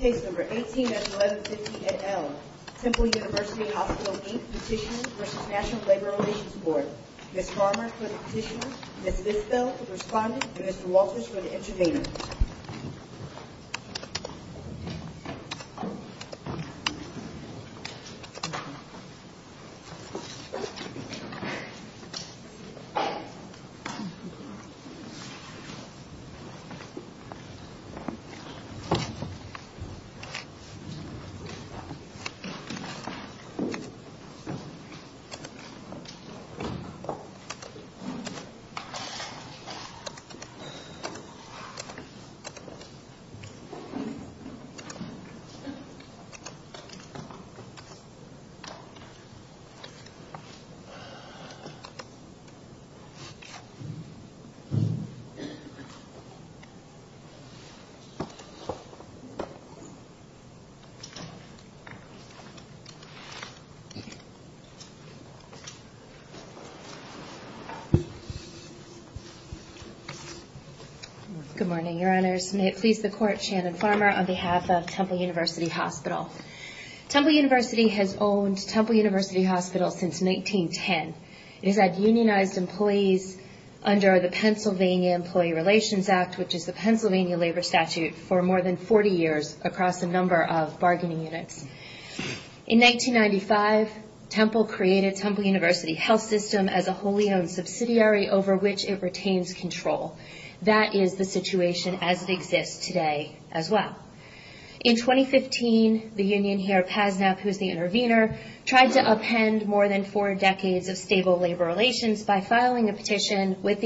Case No. 18 at 1150 NL, Temple University Hospital, Inc. Petition v. National Labor Relations Board Ms. Farmer for the petition, Ms. Bisbell for responding, and Mr. Walters for the intervener Ms. Farmer for the petition, Ms. Bisbell for responding, and Mr. Walters for the intervener Ms. Farmer for the petition, Ms. Bisbell for responding, and Mr. Walters for the intervener across a number of bargaining units. In 1995, Temple created Temple University Health System as a wholly owned subsidiary over which it retains control. That is the situation as it exists today as well. In 2015, the union here, PASNAP, who is the intervener, tried to append more than four decades of stable labor relations by filing a petition with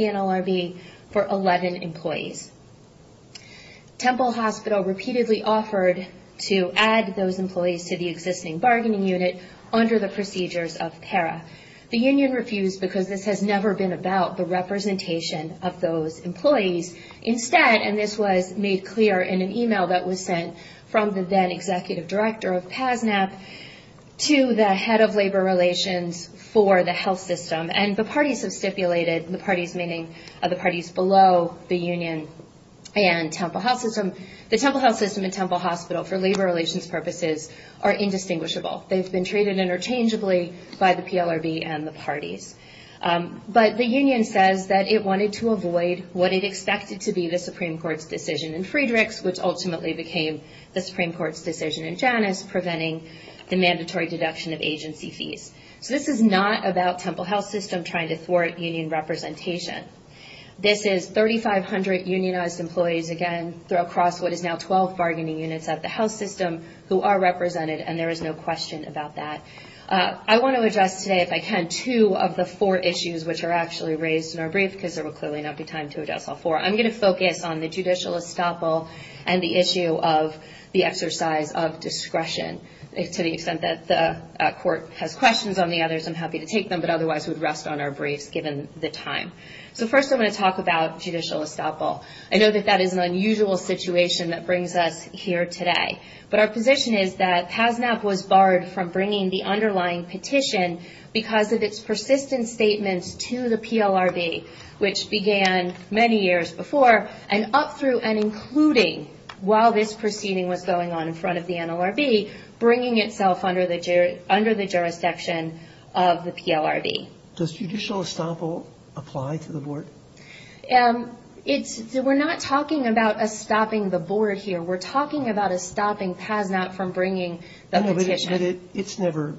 to add those employees to the existing bargaining unit under the procedures of PARA. The union refused because this has never been about the representation of those employees. Instead, and this was made clear in an email that was sent from the then executive director of PASNAP to the head of labor relations for the health system, and the parties have stipulated, the parties meaning the parties below the union and Temple Health System, the Temple Health Hospital, for labor relations purposes, are indistinguishable. They've been treated interchangeably by the PLRB and the parties. But the union says that it wanted to avoid what it expected to be the Supreme Court's decision in Friedrichs, which ultimately became the Supreme Court's decision in Janus, preventing the mandatory deduction of agency fees. So this is not about Temple Health System trying to thwart union representation. This is 3,500 unionized employees again throw across what is now 12 bargaining units at the health system who are represented and there is no question about that. I want to address today, if I can, two of the four issues which are actually raised in our brief because there will clearly not be time to address all four. I'm going to focus on the judicial estoppel and the issue of the exercise of discretion. To the extent that the court has questions on the others, I'm happy to take them, but otherwise we'd rest on our briefs given the time. So first I want to talk about judicial estoppel. I know that that is an unusual situation that brings us here today, but our position is that PASNAP was barred from bringing the underlying petition because of its persistent statements to the PLRB, which began many years before, and up through and including while this proceeding was going on in front of the NLRB, bringing itself under the jurisdiction of the PLRB. Does judicial estoppel apply to the board? We're not talking about us stopping the board here. We're talking about us stopping PASNAP from bringing the petition. It's never,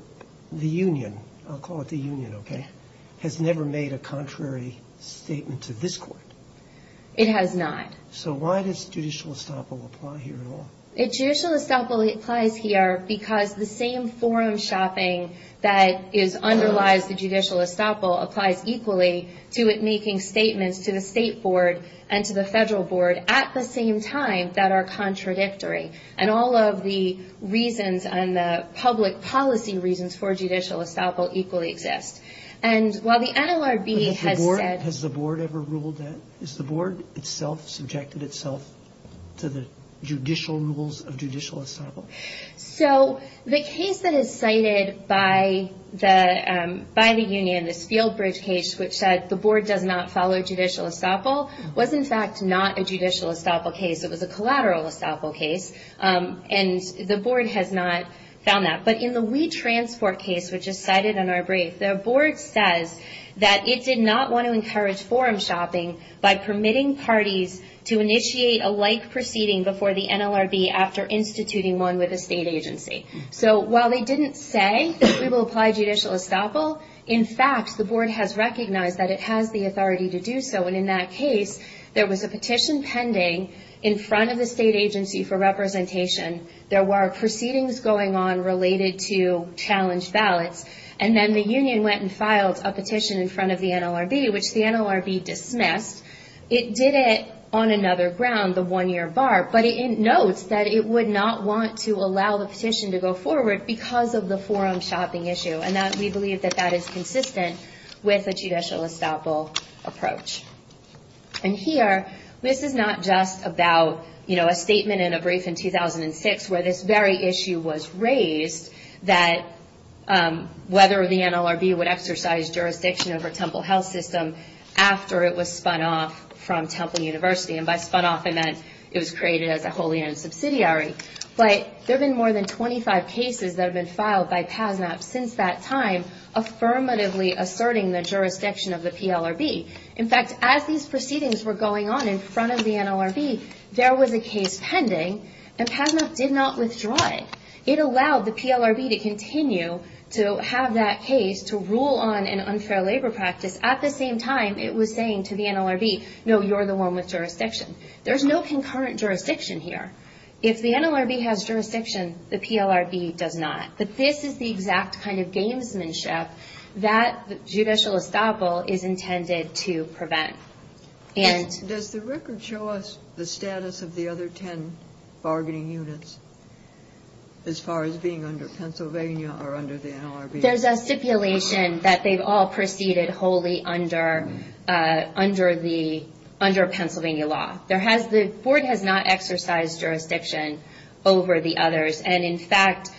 the union, I'll call it the union, okay, has never made a contrary statement to this court. It has not. So why does judicial estoppel apply here at all? Judicial estoppel applies here because the same forum shopping that underlies the judicial estoppel applies equally to it making statements to the state board and to the federal board at the same time that are contradictory. And all of the reasons and the public policy reasons for judicial estoppel equally exist. And while the NLRB has said- Has the board ever ruled that? Has the board itself subjected itself to the judicial rules of judicial estoppel? So the case that is cited by the union, this Field Bridge case, which said the board does not follow judicial estoppel, was in fact not a judicial estoppel case, it was a collateral estoppel case. And the board has not found that. But in the We Transport case, which is cited in our brief, the board says that it did not want to encourage forum shopping by permitting parties to initiate a like proceeding before the NLRB after instituting one with a state agency. So while they didn't say that we will apply judicial estoppel, in fact the board has recognized that it has the authority to do so and in that case there was a petition pending in front of the state agency for representation, there were proceedings going on related to challenge ballots, and then the union went and filed a petition in front of the NLRB which the NLRB dismissed. It did it on another ground, the one-year bar, but it notes that it would not want to allow the petition to go forward because of the forum shopping issue and that we believe that that is consistent with a judicial estoppel approach. And here, this is not just about, you know, a statement in a brief in 2006 where this very issue was raised that whether the NLRB would exercise jurisdiction over Temple Health System after it was spun off from Temple University, and by spun off I meant it was created as a wholly owned subsidiary, but there have been more than 25 cases that have been filed by PASMAP since that time affirmatively asserting the jurisdiction of the PLRB. In fact, as these proceedings were going on in front of the NLRB, there was a case pending and PASMAP did not withdraw it. It allowed the PLRB to continue to have that case to rule on an unfair labor practice at the same time it was saying to the NLRB, no, you're the one with jurisdiction. There's no concurrent jurisdiction here. If the NLRB has jurisdiction, the PLRB does not. But this is the exact kind of gamesmanship that the judicial estoppel is intended to prevent. And... Does the record show us the status of the other ten bargaining units as far as being under Pennsylvania or under the NLRB? There's a stipulation that they've all proceeded wholly under Pennsylvania law. There has... The board has not exercised jurisdiction over the others, and in fact,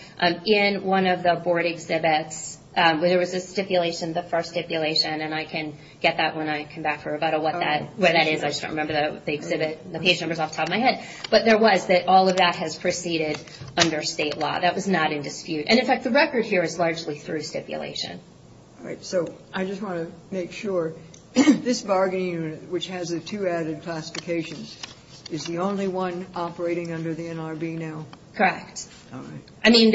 in one of the board exhibits where there was a stipulation, the first stipulation, and I can get that when I come back for a rebuttal, what that is, I just don't remember the exhibit, the page numbers off the top of my head, but there was that all of that has proceeded under state law. That was not in dispute. And in fact, the record here is largely through stipulation. All right. So I just want to make sure, this bargaining unit, which has the two added classifications, is the only one operating under the NLRB now? Correct. All right. I mean,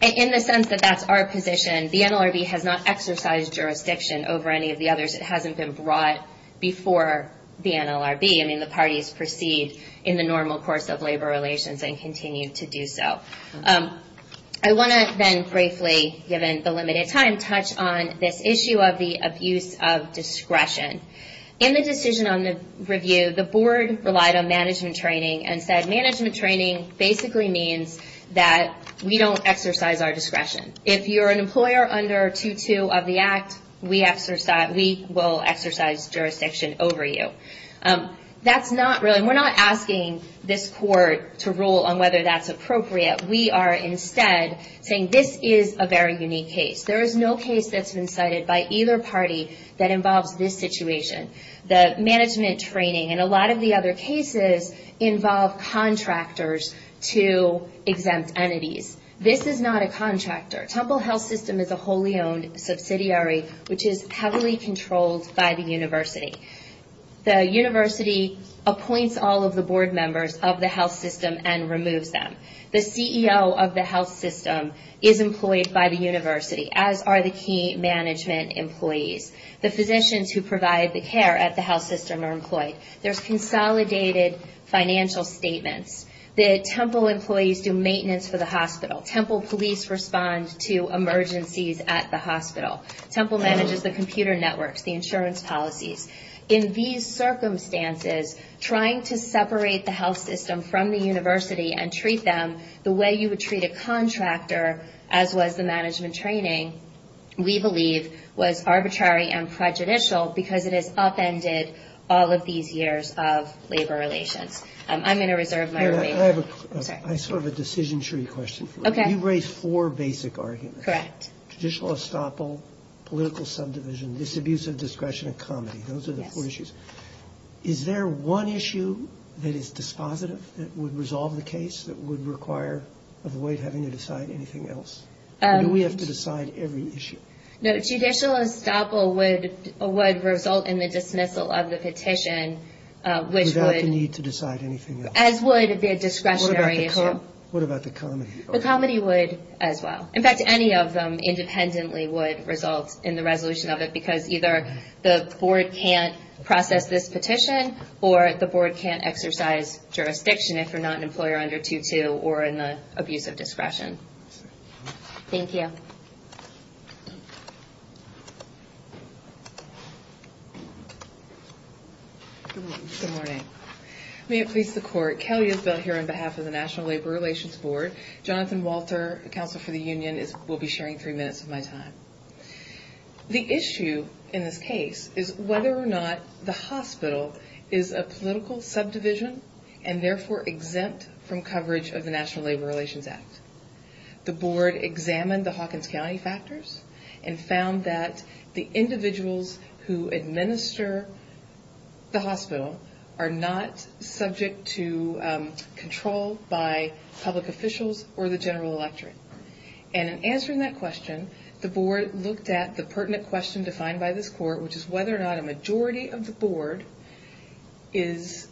in the sense that that's our position, the NLRB has not exercised jurisdiction over any of the others. It hasn't been brought before the NLRB. I mean, the parties proceed in the normal course of labor relations and continue to do so. I want to then briefly, given the limited time, touch on this issue of the abuse of discretion. In the decision on the review, the board relied on management training and said management training basically means that we don't exercise our discretion. If you're an employer under 2-2 of the Act, we will exercise jurisdiction over you. That's not really, we're not asking this court to rule on whether that's appropriate. We are instead saying this is a very unique case. There is no case that's been cited by either party that involves this situation. The management training and a lot of the other cases involve contractors to exempt entities. This is not a contractor. Temple Health System is a wholly owned subsidiary, which is heavily controlled by the university. The university appoints all of the board members of the health system and removes them. The CEO of the health system is employed by the university, as are the key management employees. The physicians who provide the care at the health system are employed. There's consolidated financial statements. The Temple employees do maintenance for the hospital. Temple police respond to emergencies at the hospital. Temple manages the computer networks, the insurance policies. In these circumstances, trying to separate the health system from the university and treat them the way you would treat a contractor, as was the management training, we believe was arbitrary and prejudicial because it has upended all of these years of labor relations. I'm going to reserve my remainder. I have a decision tree question for you. You raised four basic arguments. Correct. Judicial estoppel, political subdivision, disabuse of discretion, and comedy. Those are the four issues. Is there one issue that is dispositive, that would resolve the case, that would require a void having to decide anything else? Do we have to decide every issue? No, judicial estoppel would result in the dismissal of the petition, which would... Without the need to decide anything else. As would the discretionary issue. What about the comedy? The comedy would as well. In fact, any of them independently would result in the resolution of it, because either the board can't process this petition, or the board can't exercise jurisdiction if you're not an employer under 2-2 or in the abuse of discretion. Thank you. Good morning. Good morning. May it please the court. Kelly Isbell here on behalf of the National Labor Relations Board. Jonathan Walter, Counsel for the Union, will be sharing three minutes of my time. The issue in this case is whether or not the hospital is a political subdivision and therefore exempt from coverage of the National Labor Relations Act. The board examined the Hawkins County factors and found that the individuals who administer the hospital are not subject to control by public officials or the general electorate. And in answering that question, the board looked at the pertinent question defined by this court, which is whether or not a majority of the board is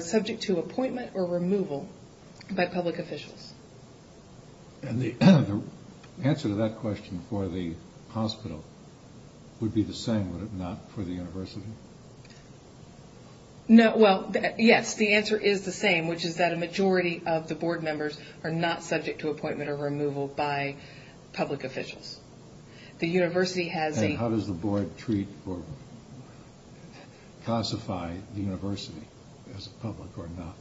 subject to appointment or removal by public officials. And the answer to that question for the hospital would be the same, would it not, for the university? No, well, yes, the answer is the same, which is that a majority of the board members are not subject to appointment or removal by public officials. The university has a... And how does the board treat or classify the university as public or not?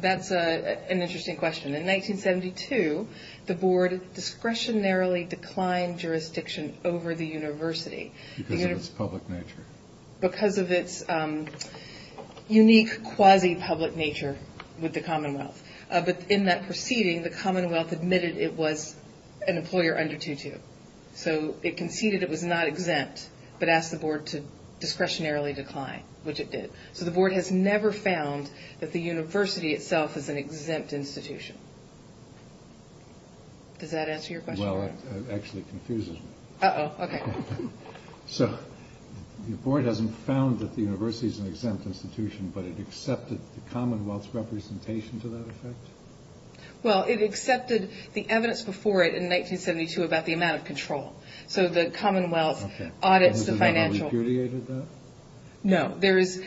That's an interesting question. In 1972, the board discretionarily declined jurisdiction over the university. Because of its public nature. Because of its unique quasi-public nature with the Commonwealth. But in that proceeding, the Commonwealth admitted it was an employer under 2-2. So it conceded it was not exempt, but asked the board to discretionarily decline, which it did. So the board has never found that the university itself is an exempt institution. Does that answer your question? Well, it actually confuses me. Uh-oh, okay. So, the board hasn't found that the university is an exempt institution, but it accepted the Commonwealth's representation to that effect? Well, it accepted the evidence before it in 1972 about the amount of control. So the Commonwealth audits the financial... Okay. There is...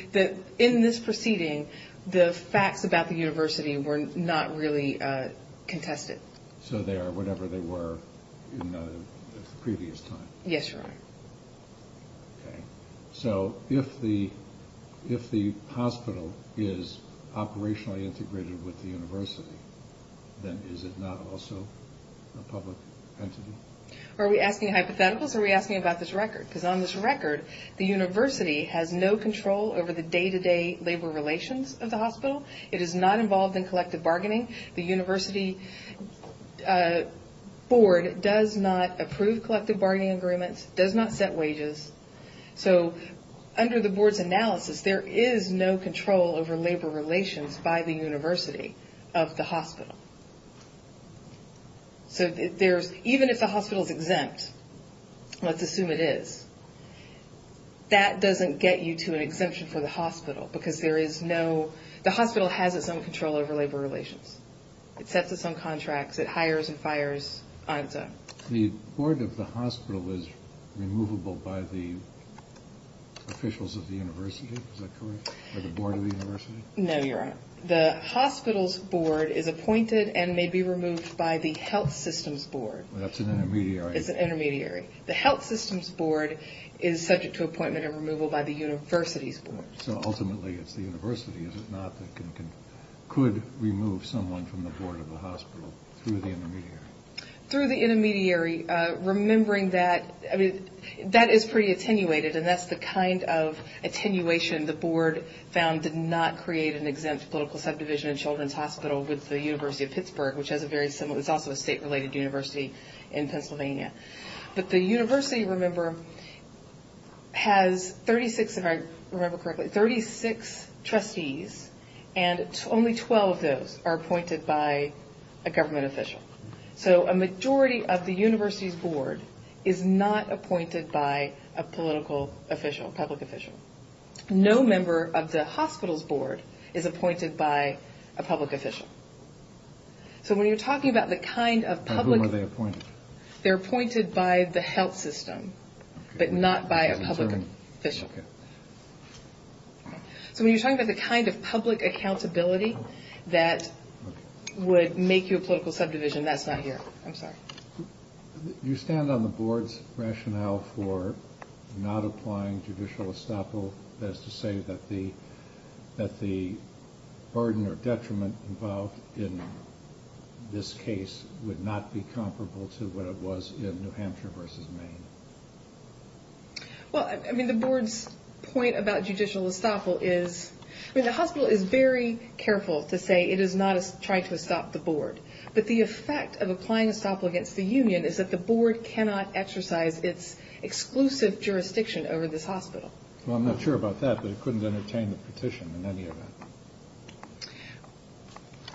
In this proceeding, the facts about the university were not really contested. So they are whatever they were in the previous time? Yes, Your Honor. Okay. So, if the hospital is operationally integrated with the university, then is it not also a public entity? Are we asking hypotheticals or are we asking about this record? Because on this record, the university has no control over the day-to-day labor relations of the hospital. It is not involved in collective bargaining. The university board does not approve collective bargaining agreements, does not set wages. So, under the board's analysis, there is no control over labor relations by the university of the hospital. So, even if the hospital is exempt, let's assume it is, that doesn't get you to an exemption for the hospital because there is no... The hospital has its own control over labor relations. It sets its own contracts. It hires and fires on its own. The board of the hospital is removable by the officials of the university? Is that correct? By the board of the university? No, Your Honor. The hospital's board is appointed and may be removed by the health system's board. Well, that's an intermediary. It's an intermediary. The health system's board is subject to appointment and removal by the university's board. So, ultimately, it's the university, is it not, that could remove someone from the board of the hospital through the intermediary? Through the intermediary. Remembering that, I mean, that is pretty attenuated and that's the kind of attenuation the board found did not create an exempt political subdivision in Children's Hospital with the University of Pittsburgh, which has a very similar... It's also a state-related university in Pennsylvania. But the university, remember, has 36, if I remember correctly, 36 trustees and only 12 of those are appointed by a government official. So, a majority of the university's board is not appointed by a political official, public official. No member of the hospital's board is appointed by a public official. So, when you're talking about the kind of public... By whom are they appointed? They're appointed by the health system, but not by a public official. Okay. So, when you're talking about the kind of public accountability that would make you I'm sorry. Do you stand on the board's rationale for not applying judicial estoppel? That is to say that the burden or detriment involved in this case would not be comparable to what it was in New Hampshire versus Maine? Well, I mean, the board's point about judicial estoppel is... I mean, the hospital is very careful to say it is not trying to estop the board. But the effect of applying estoppel against the union is that the board cannot exercise its exclusive jurisdiction over this hospital. Well, I'm not sure about that, but it couldn't entertain the petition in any event.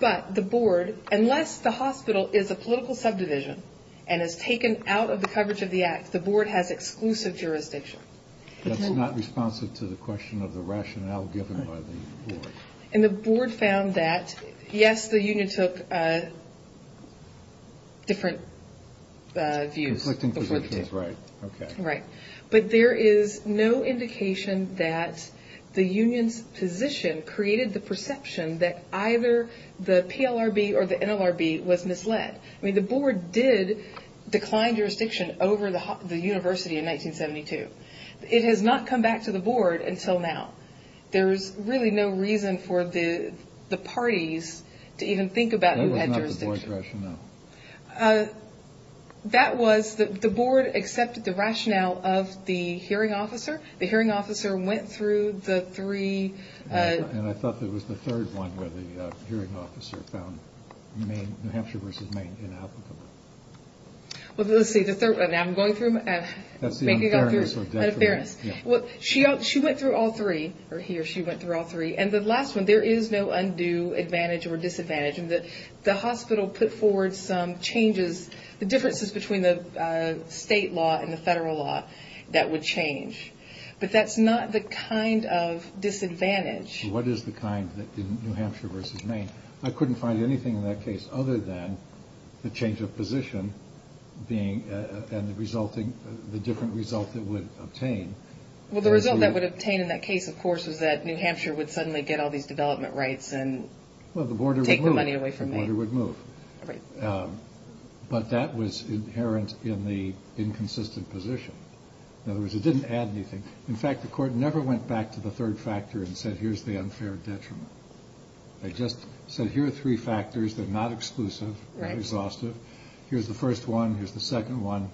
But the board, unless the hospital is a political subdivision and is taken out of the coverage of the act, the board has exclusive jurisdiction. That's not responsive to the question of the rationale given by the board. And the board found that, yes, the union took different views. Conflicting positions, right. Right. But there is no indication that the union's position created the perception that either the PLRB or the NLRB was misled. I mean, the board did decline jurisdiction over the university in 1972. It has not come back to the board until now. There is really no reason for the parties to even think about who had jurisdiction. That was not the board's rationale. That was, the board accepted the rationale of the hearing officer. The hearing officer went through the three... And I thought it was the third one where the hearing officer found New Hampshire versus Maine inapplicable. Well, let's see, the third one. I'm going through... That's the unfairness or detriment. The unfairness. She went through all three, or he or she went through all three. And the last one, there is no undue advantage or disadvantage. The hospital put forward some changes, the differences between the state law and the federal law that would change. But that's not the kind of disadvantage. What is the kind in New Hampshire versus Maine? I couldn't find anything in that case other than the change of position and the different result that would obtain. Well, the result that would obtain in that case, of course, was that New Hampshire would suddenly get all these development rights and take the money away from Maine. Well, the border would move. But that was inherent in the inconsistent position. In other words, it didn't add anything. In fact, the court never went back to the third factor and said, here's the unfair detriment. They just said, here are three factors. They're not exclusive. They're exhaustive. Here's the first one. Here's the second one.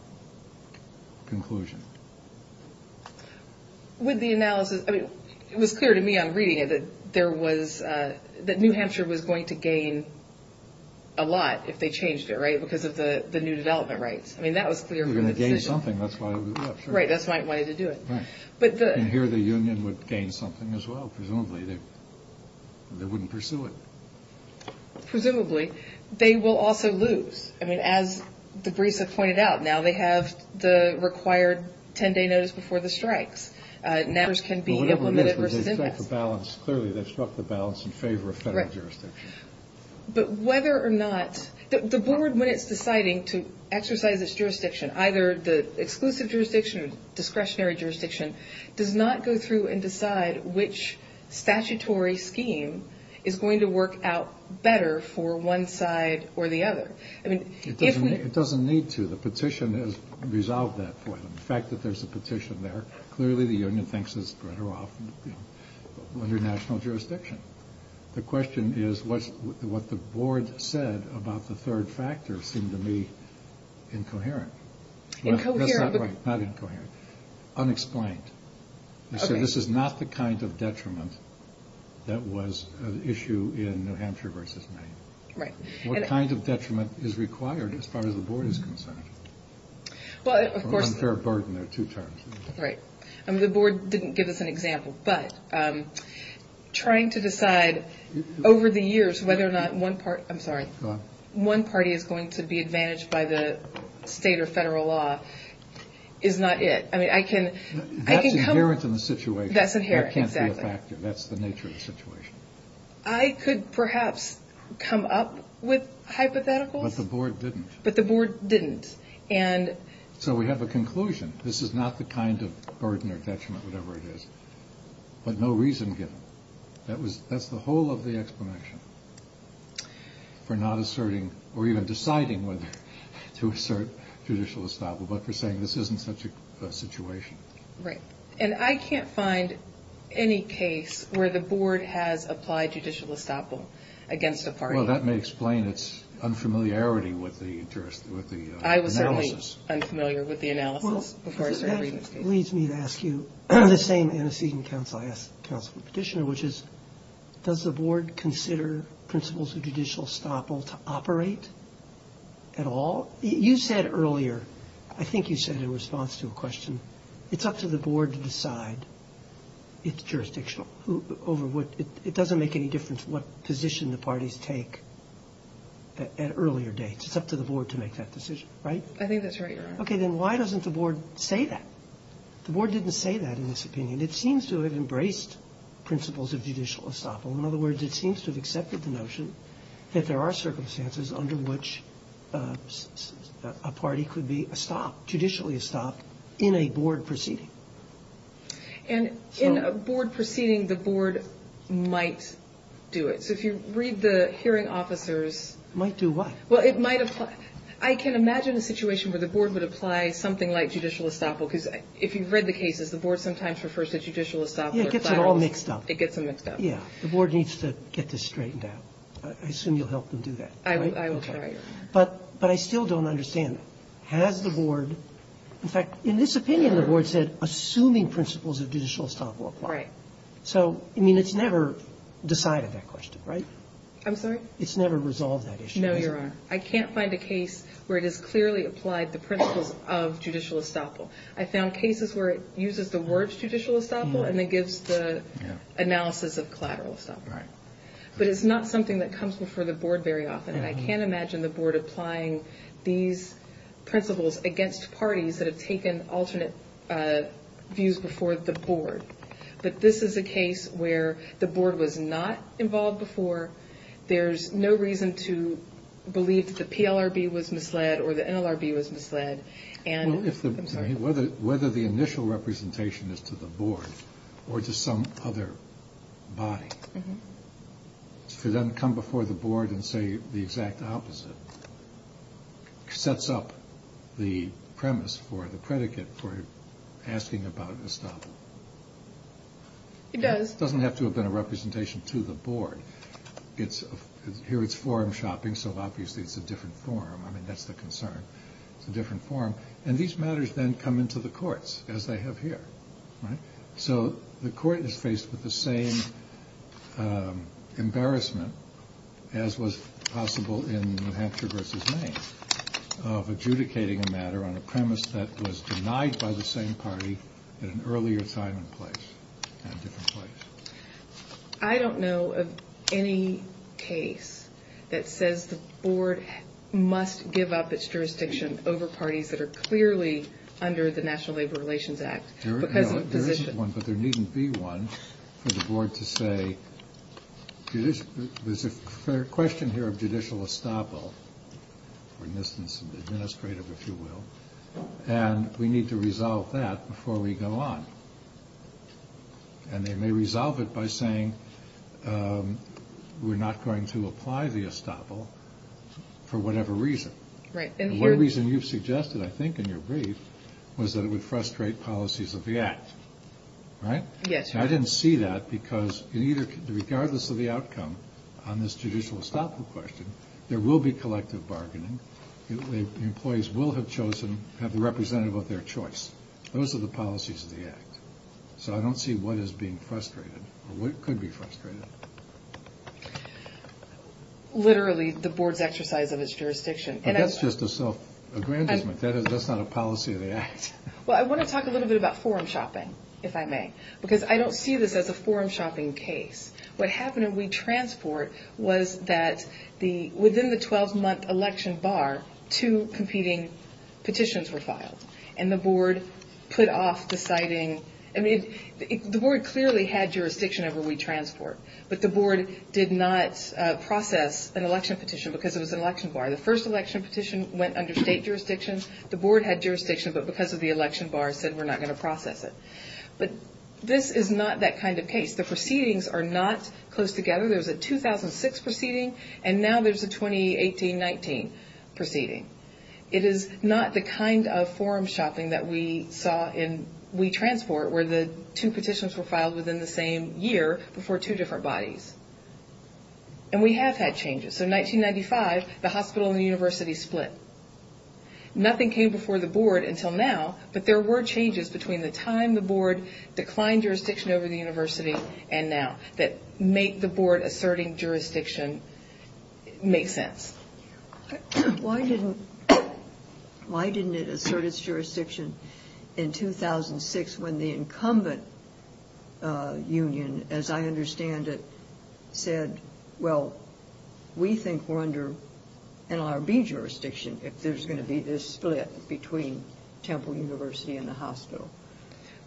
Conclusion. With the analysis, it was clear to me on reading it that New Hampshire was going to gain a lot if they changed it, right? Because of the new development rights. I mean, that was clear from the decision. They were going to gain something. That's why they did it. Right. That's why they wanted to do it. And here the union would gain something as well. Presumably. They wouldn't pursue it. Presumably. They will also lose. I mean, as Debrisa pointed out, now they have the required 10-day notice before the strikes. Now this can be implemented. Whatever it is, they've struck the balance. Clearly, they've struck the balance in favor of federal jurisdiction. Right. But whether or not... The board, when it's deciding to exercise its jurisdiction, either the exclusive jurisdiction or discretionary jurisdiction, does not go through and decide which statutory scheme is going to work out better for one side or the other. I mean, if we... It doesn't need to. The petition has resolved that point. The fact that there's a petition there, clearly the union thinks it's better off under national jurisdiction. The question is what the board said about the third factor seemed to me incoherent. Incoherent. That's not right. Not incoherent. Unexplained. Okay. This is not the kind of detriment that was an issue in New Hampshire v. Maine. Right. What kind of detriment is required as far as the board is concerned? Well, of course... Or unfair burden. There are two terms. Right. The board didn't give us an example, but trying to decide over the years whether or not one party... I'm sorry. Go on. One party is going to be advantaged by the state or federal law is not it. I mean, I can... That's inherent in the situation. That's inherent, exactly. That can't be a factor. That's the nature of the situation. I could perhaps come up with hypotheticals. But the board didn't. But the board didn't, and... So we have a conclusion. This is not the kind of burden or detriment, whatever it is, but no reason given. That's the whole of the explanation for not asserting or even deciding whether to assert judicial establishment, but for saying this isn't such a situation. Right. And I can't find any case where the board has applied judicial establishment against a party. Well, that may explain its unfamiliarity with the analysis. I was certainly unfamiliar with the analysis before I started reading this case. That leads me to ask you the same antecedent I asked the Councilman Petitioner, which is does the board consider principles of judicial establishment to operate at all? You said earlier, I think you said in response to a question, it's up to the board to decide its jurisdiction over what... It doesn't make any difference what position the parties take at earlier dates. It's up to the board to make that decision, right? I think that's right, Your Honor. Okay, then why doesn't the board say that? The board didn't say that in this opinion. It seems to have embraced principles of judicial establishment. In other words, it seems to have accepted the notion that there are circumstances under which a party could be estopped, judicially estopped in a board proceeding. And in a board proceeding, the board might do it. So if you read the hearing officers... Might do what? Well, it might apply... I can imagine a situation where the board would apply something like judicial estoppel because if you've read the cases, the board sometimes refers to judicial estoppel... Yeah, it gets it all mixed up. It gets them mixed up. Yeah, the board needs to get this straightened out. I assume you'll help them do that, right? I will try, Your Honor. But I still don't understand. Has the board... In fact, in this opinion, the board said, assuming principles of judicial estoppel apply. Right. So, I mean, it's never decided that question, right? I'm sorry? It's never resolved that issue. No, Your Honor. I can't find a case where it has clearly applied the principles of judicial estoppel. I found cases where it uses the word judicial estoppel and then gives the analysis of collateral estoppel. Right. But it's not something that comes before the board very often. And I can't imagine the board applying these principles against parties that have taken alternate views before the board. But this is a case where the board was not involved before. There's no reason to believe the PLRB was misled or the NLRB was misled. And... Well, if the... I'm sorry. Whether the initial representation is to the board or to some other body. Mm-hmm. If it doesn't come before the board and say the exact opposite, it sets up the premise for the predicate for asking about estoppel. It does. It doesn't have to have been a representation to the board. It's... Here it's forum shopping, so obviously it's a different forum. I mean, that's the concern. It's a different forum. And these matters then come into the courts, as they have here, right? So the court is faced with the same embarrassment as was possible in New Hampshire v. Maine of adjudicating a matter on a premise that was denied by the same party at an earlier time and place, at a different place. I don't know of any case that says the board must give up its jurisdiction over parties that are clearly under the National Labor Relations Act because of the position. There isn't one, but there needn't be one for the board to say there's a question here of judicial estoppel or administrative, if you will, and we need to resolve that before we go on. And they may resolve it by saying we're not going to apply the estoppel for whatever reason. The one reason you've suggested, I think, in your brief, was that it would frustrate policies of the Act, right? Yes. I didn't see that because regardless of the outcome on this judicial estoppel question, there will be collective bargaining. Employees will have chosen to have the representative of their choice. Those are the policies of the Act. So I don't see what is being frustrated or what could be frustrated. Literally, the board's exercise of its jurisdiction. But that's just a self-aggrandizement. That's not a policy of the Act. Well, I want to talk a little bit about forum shopping, if I may. Because I don't see this as a forum shopping case. What happened at WeTransport was that within the 12-month election bar, two competing petitions were filed. And the board put off deciding. I mean, the board clearly had jurisdiction over WeTransport. But the board did not process an election petition because it was an election bar. The first election petition went under state jurisdiction. The board had jurisdiction but because of the election bar said, we're not going to process it. But this is not that kind of case. The proceedings are not close together. There was a 2006 proceeding and now there's a 2018-19 proceeding. It is not the kind of forum shopping that we saw in WeTransport where the two petitions were filed within the same year before two different bodies. And we have had changes. So, 1995, the hospital and the university split. Nothing came before the board until now but there were changes between the time the board declined jurisdiction over the university and now that make the board asserting jurisdiction make sense. Why didn't it assert its jurisdiction in 2006 when the incumbent union, as I understand it, said, well, we think we're under NLRB jurisdiction if there's going to be this split between Temple University and the hospital?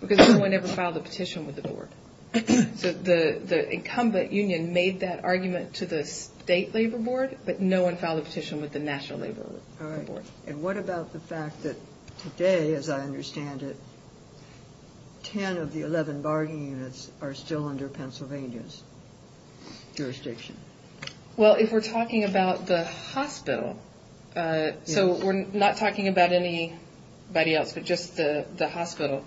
Because no one ever filed a petition with the board. The incumbent union made that argument to the state labor board but no one filed a petition with the national labor board. And what about the fact that today, as I understand it, 10 of the 11 bargaining units are still under Pennsylvania's jurisdiction? Well, if we're talking about the hospital so we're not talking about anybody else but just the hospital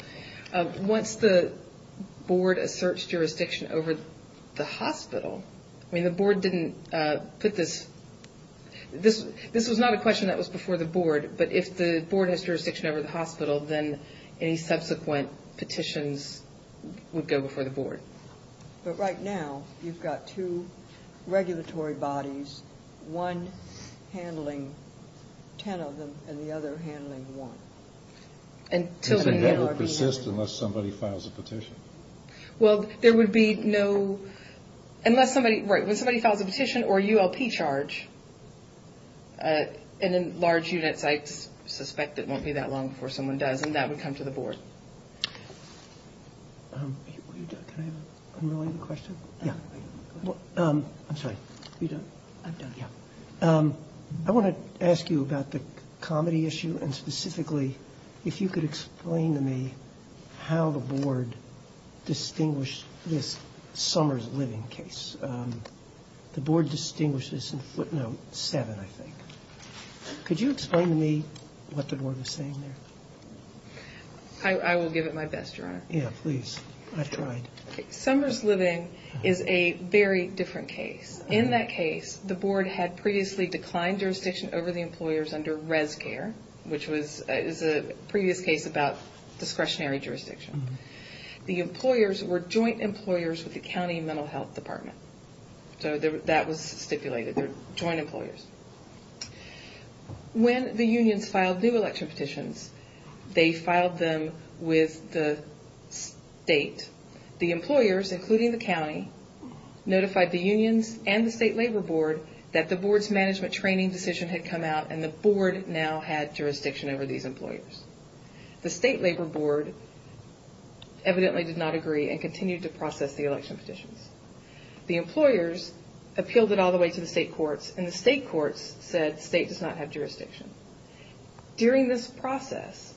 once the board asserts jurisdiction over the hospital the board didn't put this this was not a question that was before the board but if the board has jurisdiction over the hospital then any one handling 10 of them and the other handling one. Does it ever persist unless somebody files a petition? Well, there would be no unless somebody files a petition or a ULP charge in large units I suspect it won't be that long before someone does and that would come to the board. I want to ask you about the comedy issue and specifically if you could explain to me how the board distinguished this Summers living case the board distinguished this in footnote seven I think could you explain to me what the board is saying there? I will give it my best. Summers living is a very different case in that case the board had previously declined jurisdiction over the employers under res care which was a previous case about discretionary jurisdiction the employers were joint employers with the county mental health department that was stipulated joint employers when the unions filed new election petitions they filed them with the state the employers including the county notified the unions and the state labor board that the board's management training decision had come out and the board now had jurisdiction over these employers the state labor board evidently did not agree and continued to process the election petitions the employers appealed it all the way to the state courts and the state courts said state does not have jurisdiction during this process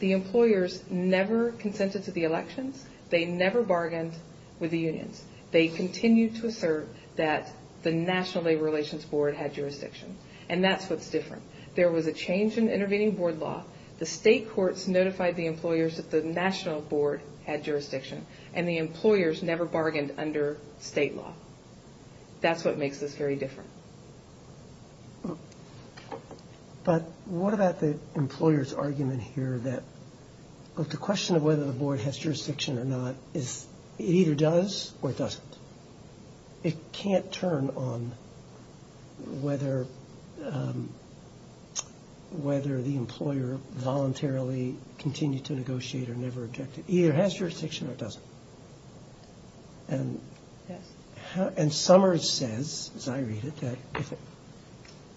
the employers never consented to the elections they never bargained with the unions they continued to assert that the national labor relations board had jurisdiction and that's what's different there was a change in intervening board law the state courts notified the employers that the national board had jurisdiction and the employers never bargained under state law that's what makes this very different but what about the employers argument here that the question of whether the board has jurisdiction or not it either does or doesn't it can't turn on whether whether the employer voluntarily continued to negotiate or never does and Summers says as I read it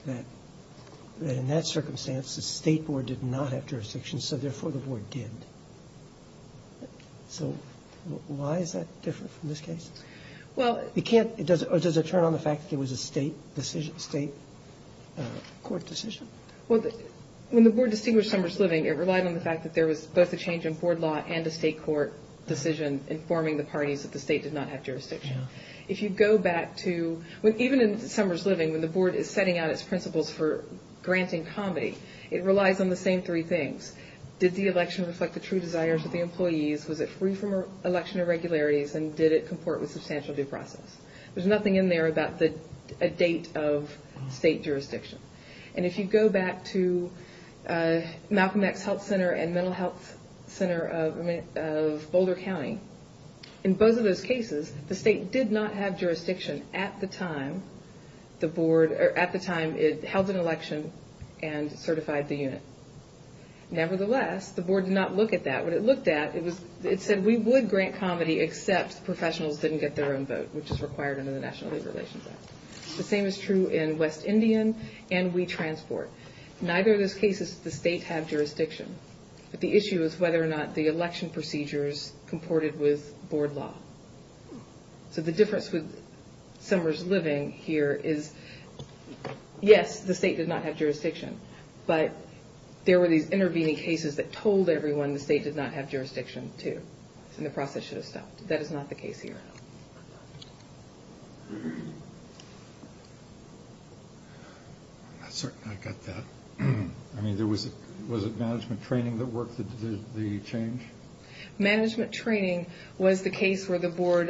that in that circumstance the state board did not have jurisdiction so therefore the board did so why is that different from this case does it turn on the fact that there was a state court decision when the board distinguished in Summers Living it relied on the fact that there was both a change in board law and a state court decision informing the parties that the state did not have jurisdiction if you go back to even in Summers Living when the board is setting out its principles for granting comedy it relies on the same three things did the election reflect the true desires of the employees was it free from election irregularities and did it comport with substantial due process there's nothing in there about the date of state election at the time it held an election and certified the unit nevertheless the board did not look at that it said we would grant comedy except professionals didn't get their own vote the same is true in West Indian and We Transport neither of those cases the state have jurisdiction the issue is whether or not the election procedures comported with board law so the difference with Summers Living here is yes the state did not have jurisdiction but there were these intervening cases that told everyone the state did not have jurisdiction was it management training that worked the change management training was the case where the board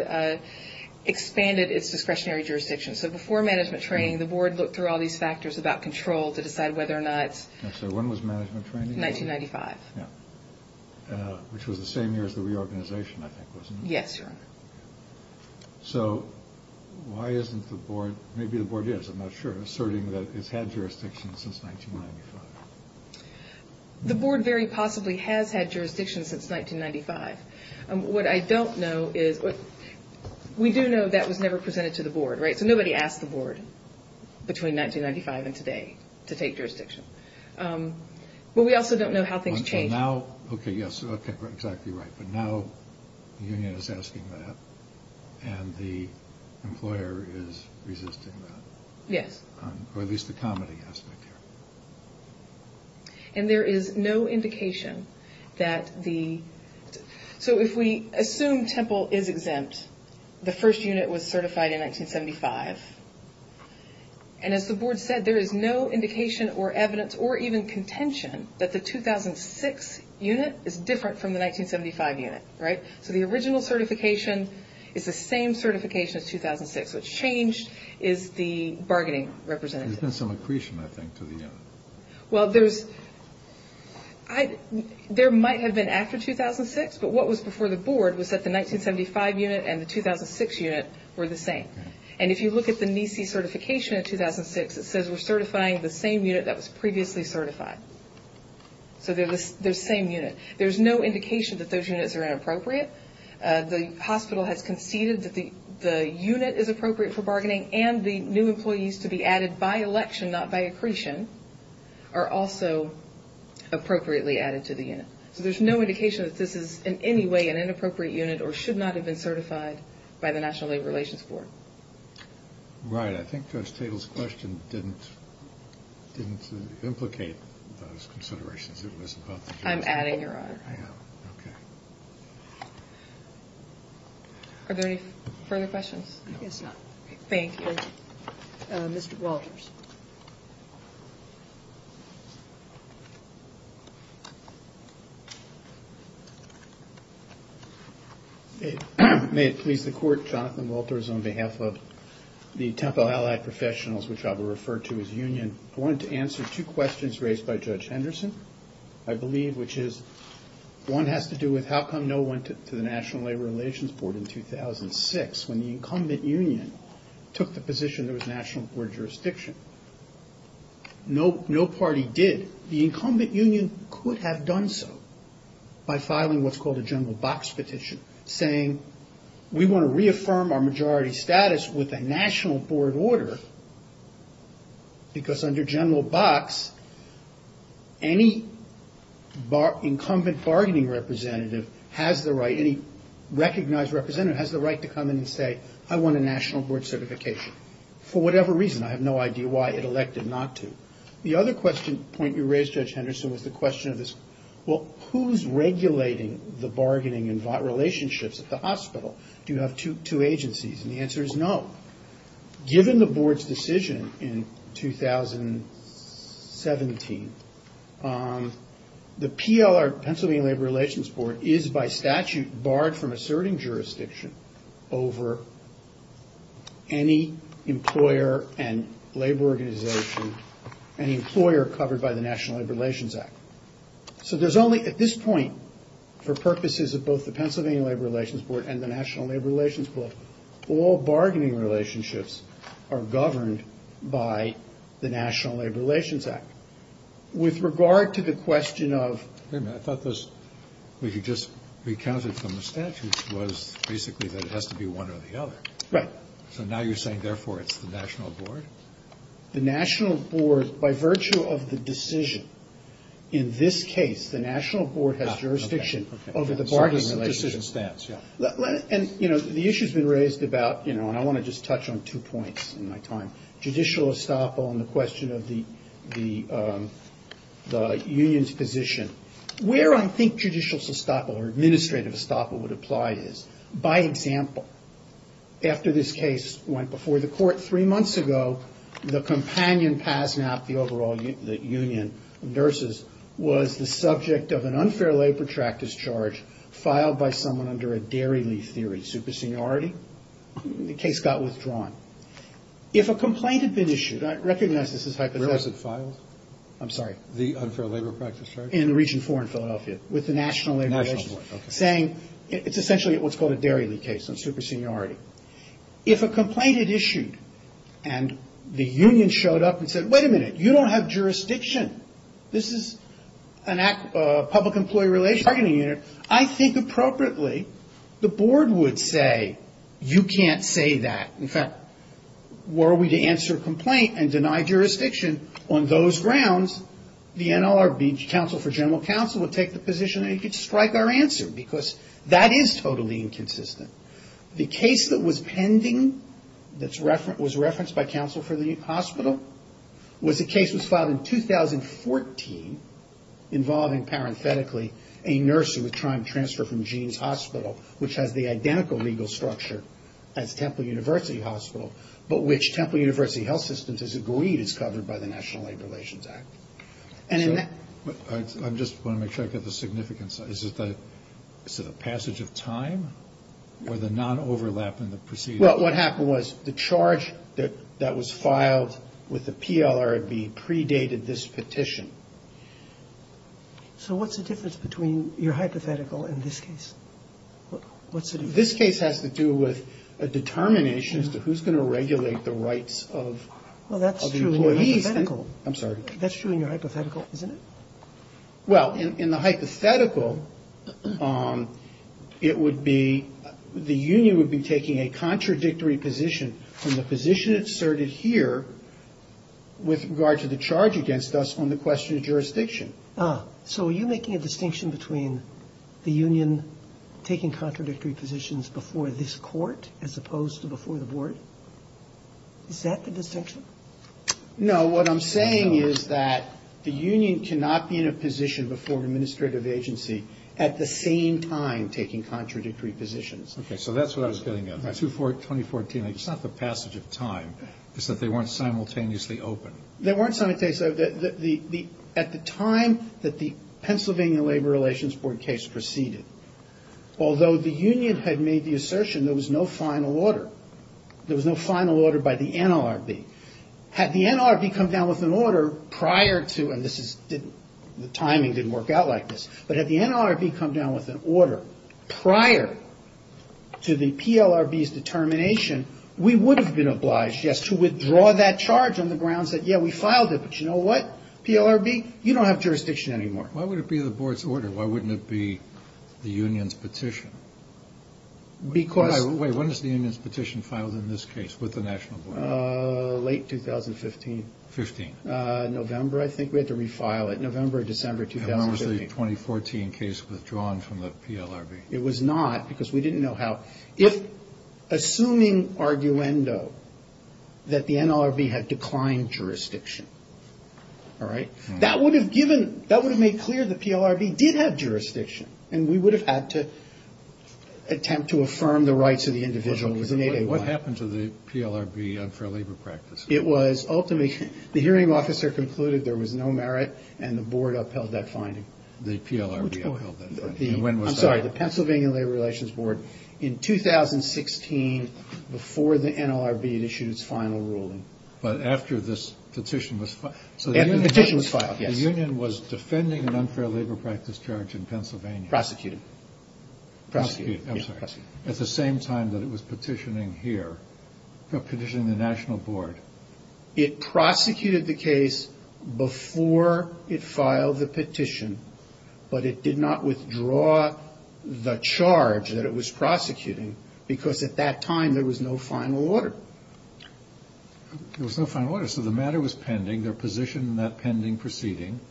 expanded its discretionary jurisdiction so before management training the board looked through all these factors about control to decide whether or not when was management training 1995 which was the same year as the reorganization I think yes so why isn't the board maybe the board is I'm not sure asserting that it's had jurisdiction since 1995 the board very possibly has had jurisdiction since 1995 what I don't know is we do know that was never presented to the board so nobody asked the board between 1995 and today to take jurisdiction but we also don't know how things changed now ok yes exactly right but now the union is asking that and the employer is resisting that yes or at least the comedy aspect here and there is no indication that the so if we assume Temple is exempt the first and as the board said there is no indication or evidence or even contention that the 2006 unit is different 1975 unit right so the original certification is the same certification as 2006 what's changed is the bargaining representative there's been the 1975 unit and the 2006 unit were the same and if you look at the NISI certification of 2006 it says we're certifying the same unit that was previously certified so they're the same unit there's no indication that those units are inappropriate the hospital has conceded that the unit is appropriate for bargaining and the new employees to be added by election not by accretion are also appropriately added to the unit there's no indication that this is in any way an inappropriate unit or should not have been certified by the national labor relations board right I think judge are there any further thank you Mr. Walters may it please the court Jonathan Walters on behalf of the Temple Allied Professionals which I will refer to as union I wanted to answer two questions raised by Judge Henderson I believe which is one has to do with how come no one to the national labor relations board in 2006 when the incumbent union took the position there was national board jurisdiction no party did the incumbent union could have done so by filing what's called a general box petition saying we want to reaffirm our majority status with a national board order because under general box any incumbent bargaining representative has the right any recognized representative has the right to come in and say I want a national board certification for whatever reason I have no idea why it elected not to the other question point you raised judge Henderson was the question of this well who's regulating the bargaining and relationships at the hospital do you have two agencies and the answer is no given the board's decision in 2017 the PLR Pennsylvania labor relations board is by statute barred from asserting jurisdiction over any employer and labor organization any employer covered by the national labor relations act so there's only at this point for purposes of both the Pennsylvania labor relations board and the national labor relations board all bargaining relationships are governed by the national labor relations act with regard to the question of wait a minute I thought we just recounted from the statute was basically that it has to be one or the other right so now you're saying therefore it's the national board the national board by virtue of the decision in this case the national board has jurisdiction over the union's position where I think judicial estoppel or administrative estoppel would apply is by example after this case went before the court three months ago the companion PASMAP the overall union of nurses was the subject of an unfair labor practice charge filed by someone under a dairy leaf theory superseniority the case got withdrawn if a complaint had been issued I recognize this as hypothetical where was it filed? I'm sorry the unfair labor practice charge in region four in Philadelphia with the national labor agency saying it's essentially what's called a dairy leaf case superseniority if a complaint is issued and the union showed up and said wait a minute you don't have jurisdiction this is a public employee relationship I think appropriately the board would say you can't say that in fact were we to answer a complaint and deny jurisdiction on those grounds the NLRB council for general council would take the position and strike our answer because that is totally inconsistent the case that was pending that was referenced by council for the hospital was a case that was filed in 2014 involving parenthetically a nurse who was trying to transfer from Jeans Hospital which has the identical legal structure as Temple University Hospital but which Temple University Health Systems has agreed is covered by the National Labor Relations Act I just want to make sure I get the significance is it the passage of time or the non-overlap in the proceedings well what happened was the charge that was filed with the PLRB predated this petition so what's the difference between your hypothetical and this case this case has to do with a determination as to who's going to regulate the rights of the employees that's true in your hypothetical isn't it well in the hypothetical it would be the union would be taking a contradictory position from the position asserted here with regard to the charge against us on the question of taking contradictory positions before this court as opposed to before the board is that the distinction no what I'm saying is that the union cannot be in a position before an administrative agency at the same time taking contradictory positions okay so that's what I was getting at 2014 2014 it's not the passage of time it's that they weren't simultaneously open they weren't simultaneously at the time that the Pennsylvania Labor Relations Board case proceeded although the union had made the assertion there was no final order there was no final order by the NLRB had the NLRB come down with an order prior to and this is the timing didn't work out like this but had the NLRB come down with an order prior to the PLRB's determination we would have been obliged yes to withdraw that charge on the grounds that yeah we filed it but you know what PLRB you don't have jurisdiction anymore why would it be the board's order why wouldn't it be the union's petition because wait when is the union's petition filed in this case with the national board late 2015 15 November I think we had to refile it November December 2015 and was the 2014 case withdrawn from the PLRB it was not because we didn't know how if assuming arguendo that the NLRB had declined jurisdiction alright that would have given that would have made clear that the PLRB did have jurisdiction and we would have had to attempt to affirm the board upheld that finding the PLRB I'm sorry the Pennsylvania labor relations board in 2016 before the NLRB issued its final ruling but after this petition was filed the union was defending an unfair labor practice charge in Pennsylvania prosecuted at the same time that it was petitioning here petitioning the national board it prosecuted the case before it filed the petition but it did not withdraw the charge that it was prosecuting because at that time there was no final order there was no final order so the matter was pending their position in that pending proceeding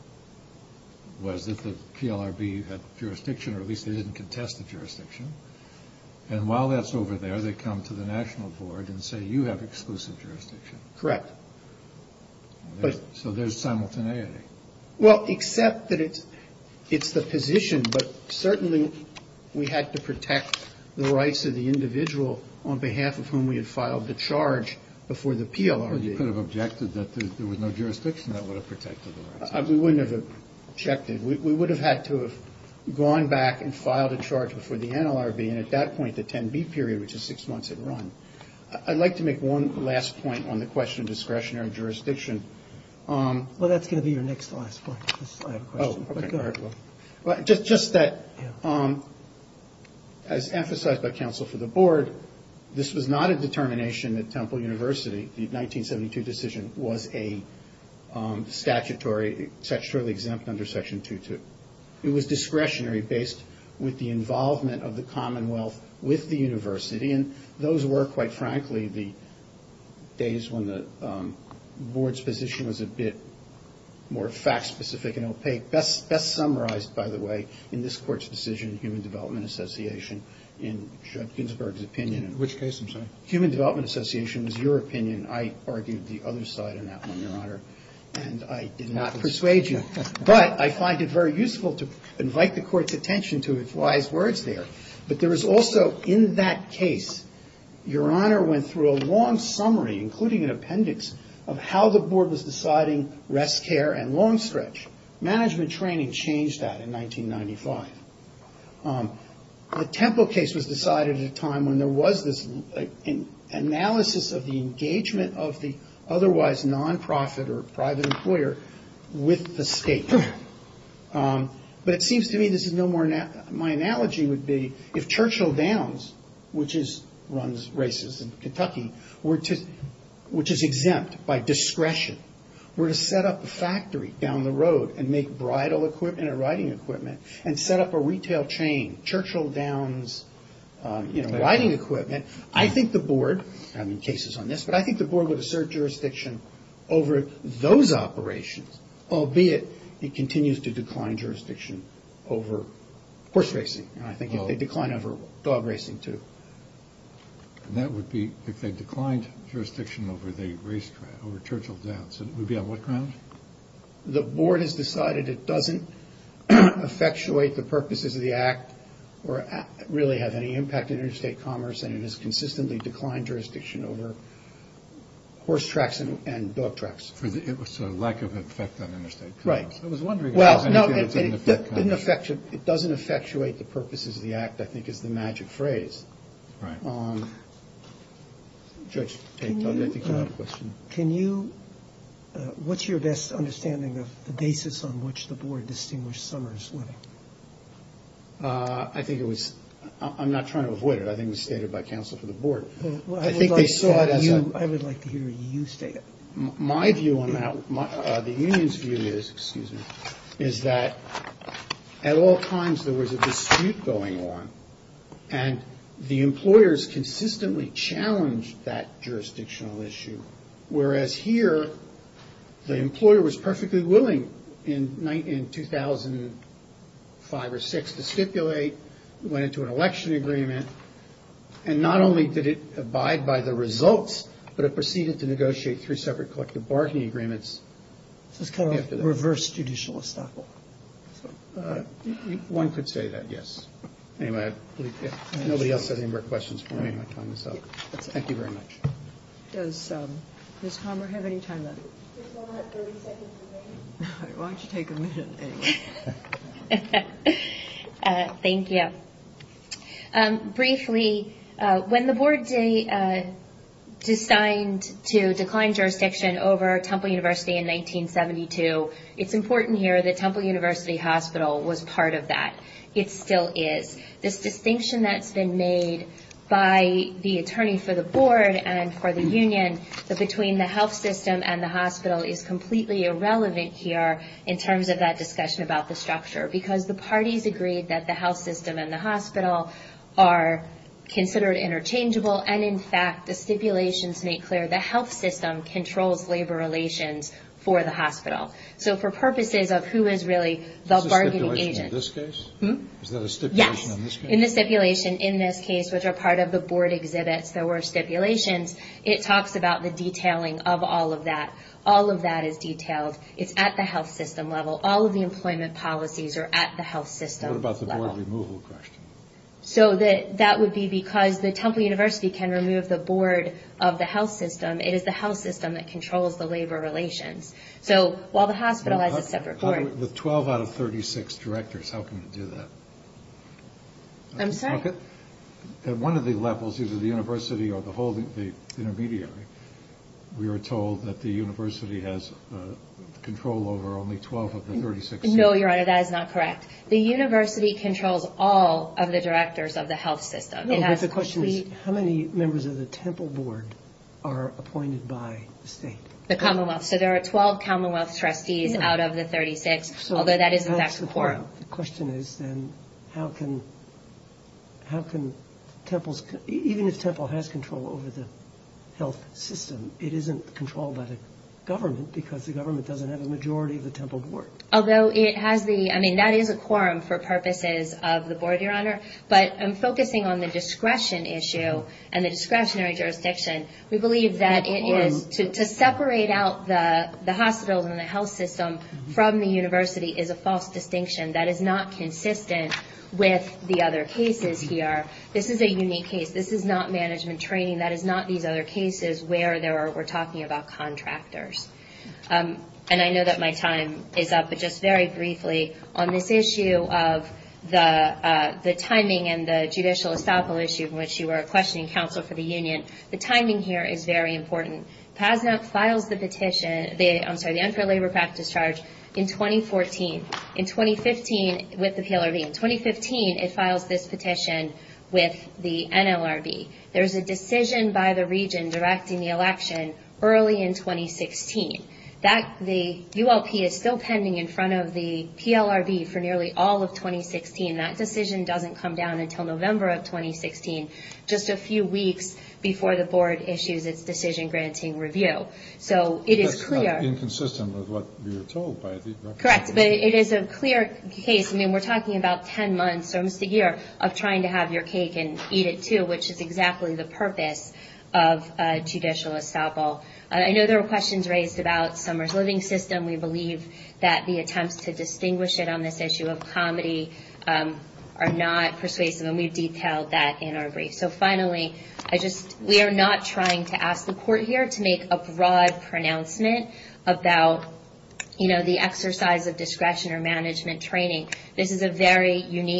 was that the PLRB had jurisdiction or at least they didn't contest the jurisdiction and while that's over there they come to the national board and say you have exclusive jurisdiction correct so there's simultaneity well except that it's it's the position but we had to protect the rights of the individual on behalf of whom we had filed the charge before the PLRB you could have objected that there was no jurisdiction that would have protected the rights we wouldn't have the 10B period which is six months in run I'd like to make one last point on the question of discretionary jurisdiction well that's going to be your next last point I have a question just that as emphasized by counsel for the board this was not a determination that Temple University the 1972 decision was a statutory statutory exempt under section 2.2 it was discretionary based with the involvement of the commonwealth with the university and those were quite frankly the days when the board's position was a bit more fact specific and opaque best summarized by the way in this court's decision human development association in Judd I find it very useful to invite the court's attention to its wise words there but there is also in that case your honor went through a long summary including an appendix of how the board was deciding rest care and long stretch management training changed that in 1995 the Temple case was decided at a time when there was this analysis of the engagement of the otherwise nonprofit or private employer with the state but it seems to me this is no more my analogy would be if Churchill Downs which is runs races in Texas riding equipment I think the board would assert jurisdiction over those operations albeit it continues to decline jurisdiction over horse racing decline over dog racing too that would be declined jurisdiction over Churchill Downs would be on what does not effectuate the purposes of the act or really have any impact in interstate commerce and it has consistently declined jurisdiction over horse tracks and dog tracks it was a lack of effect on interstate commerce it doesn't effectuate the purposes of the act I think is the magic phrase right on judge can you what's your best understanding of the basis on which the board distinguished Summers I think it was I'm not trying to avoid it I think it was stated by counsel for the board I would like to hear you state it my view the unions view is that at all times there was a dispute going on and the employers consistently challenged that jurisdictional issue whereas here the employer was perfectly willing in 2005 or 6 to stipulate went into an election agreement and not only did it abide by the results but it proceeded to negotiate through separate collective bargaining agreements reverse judicial estoppel one could say that yes anyway nobody else has any more questions thank you very much does Ms. Homer have any time left why don't you take a minute anyway thank you briefly when the board yesterday decided to decline jurisdiction over Temple University in 1972 it's important here that Temple University Hospital was part of that it still is this distinction that's been made by the attorney for the board and for the union between the health system and the hospital is completely irrelevant here in terms of that discussion about the structure because the parties agreed that the health system and the hospital are considered interchangeable and in fact the stipulations make clear the health system controls labor relations for the hospital so for purposes of who is really the bargaining agent in this case which are part of the board exhibits there were stipulations it talks about the detailing of all of that all of that is detailed it's at the health system level all of the employment policies are at the health system level so that that would be because the temple university can remove the board of the health system it is the health system that controls the control over only 12 of the 36 no your honor that is not correct the university controls all of the directors of the health system but the question is how many members of the temple board are appointed by the state the commonwealth so there are 12 commonwealth trustees out of the majority of the temple board although it has the I mean that is a quorum for purposes of the board your honor but I'm focusing on the discretion issue and the discretionary jurisdiction we believe that it is to separate out the hospitals and the health system from the university is a false distinction that is not consistent with the other cases here this is a unique case this is not management training that is not these other cases where we're talking about in 2014 in 2015 with the PLRB in 2015 it files this petition with the NLRB there's a decision by the region directing the election early in 2016 that the ULP is still pending in front of the PLRB for nearly all of 2016 that decision doesn't come down until November of 2016 just a few weeks before the board issues its decision granting review so it is clear it is a clear case we're talking about 10 months of trying to have your cake and eat it too which is exactly the purpose of judicial estoppel I know there were questions raised about summer's living system we believe that the attempts to distinguish it on this is a unique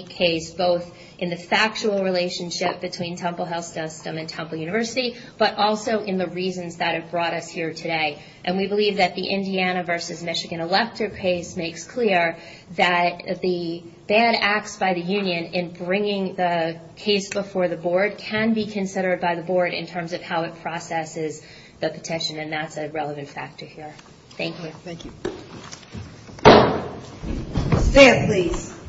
case both in the factual relationship between temple health system and temple university but also in the reasons that it brought us here today and we believe that the Indiana versus is a relevant factor here thank you stand please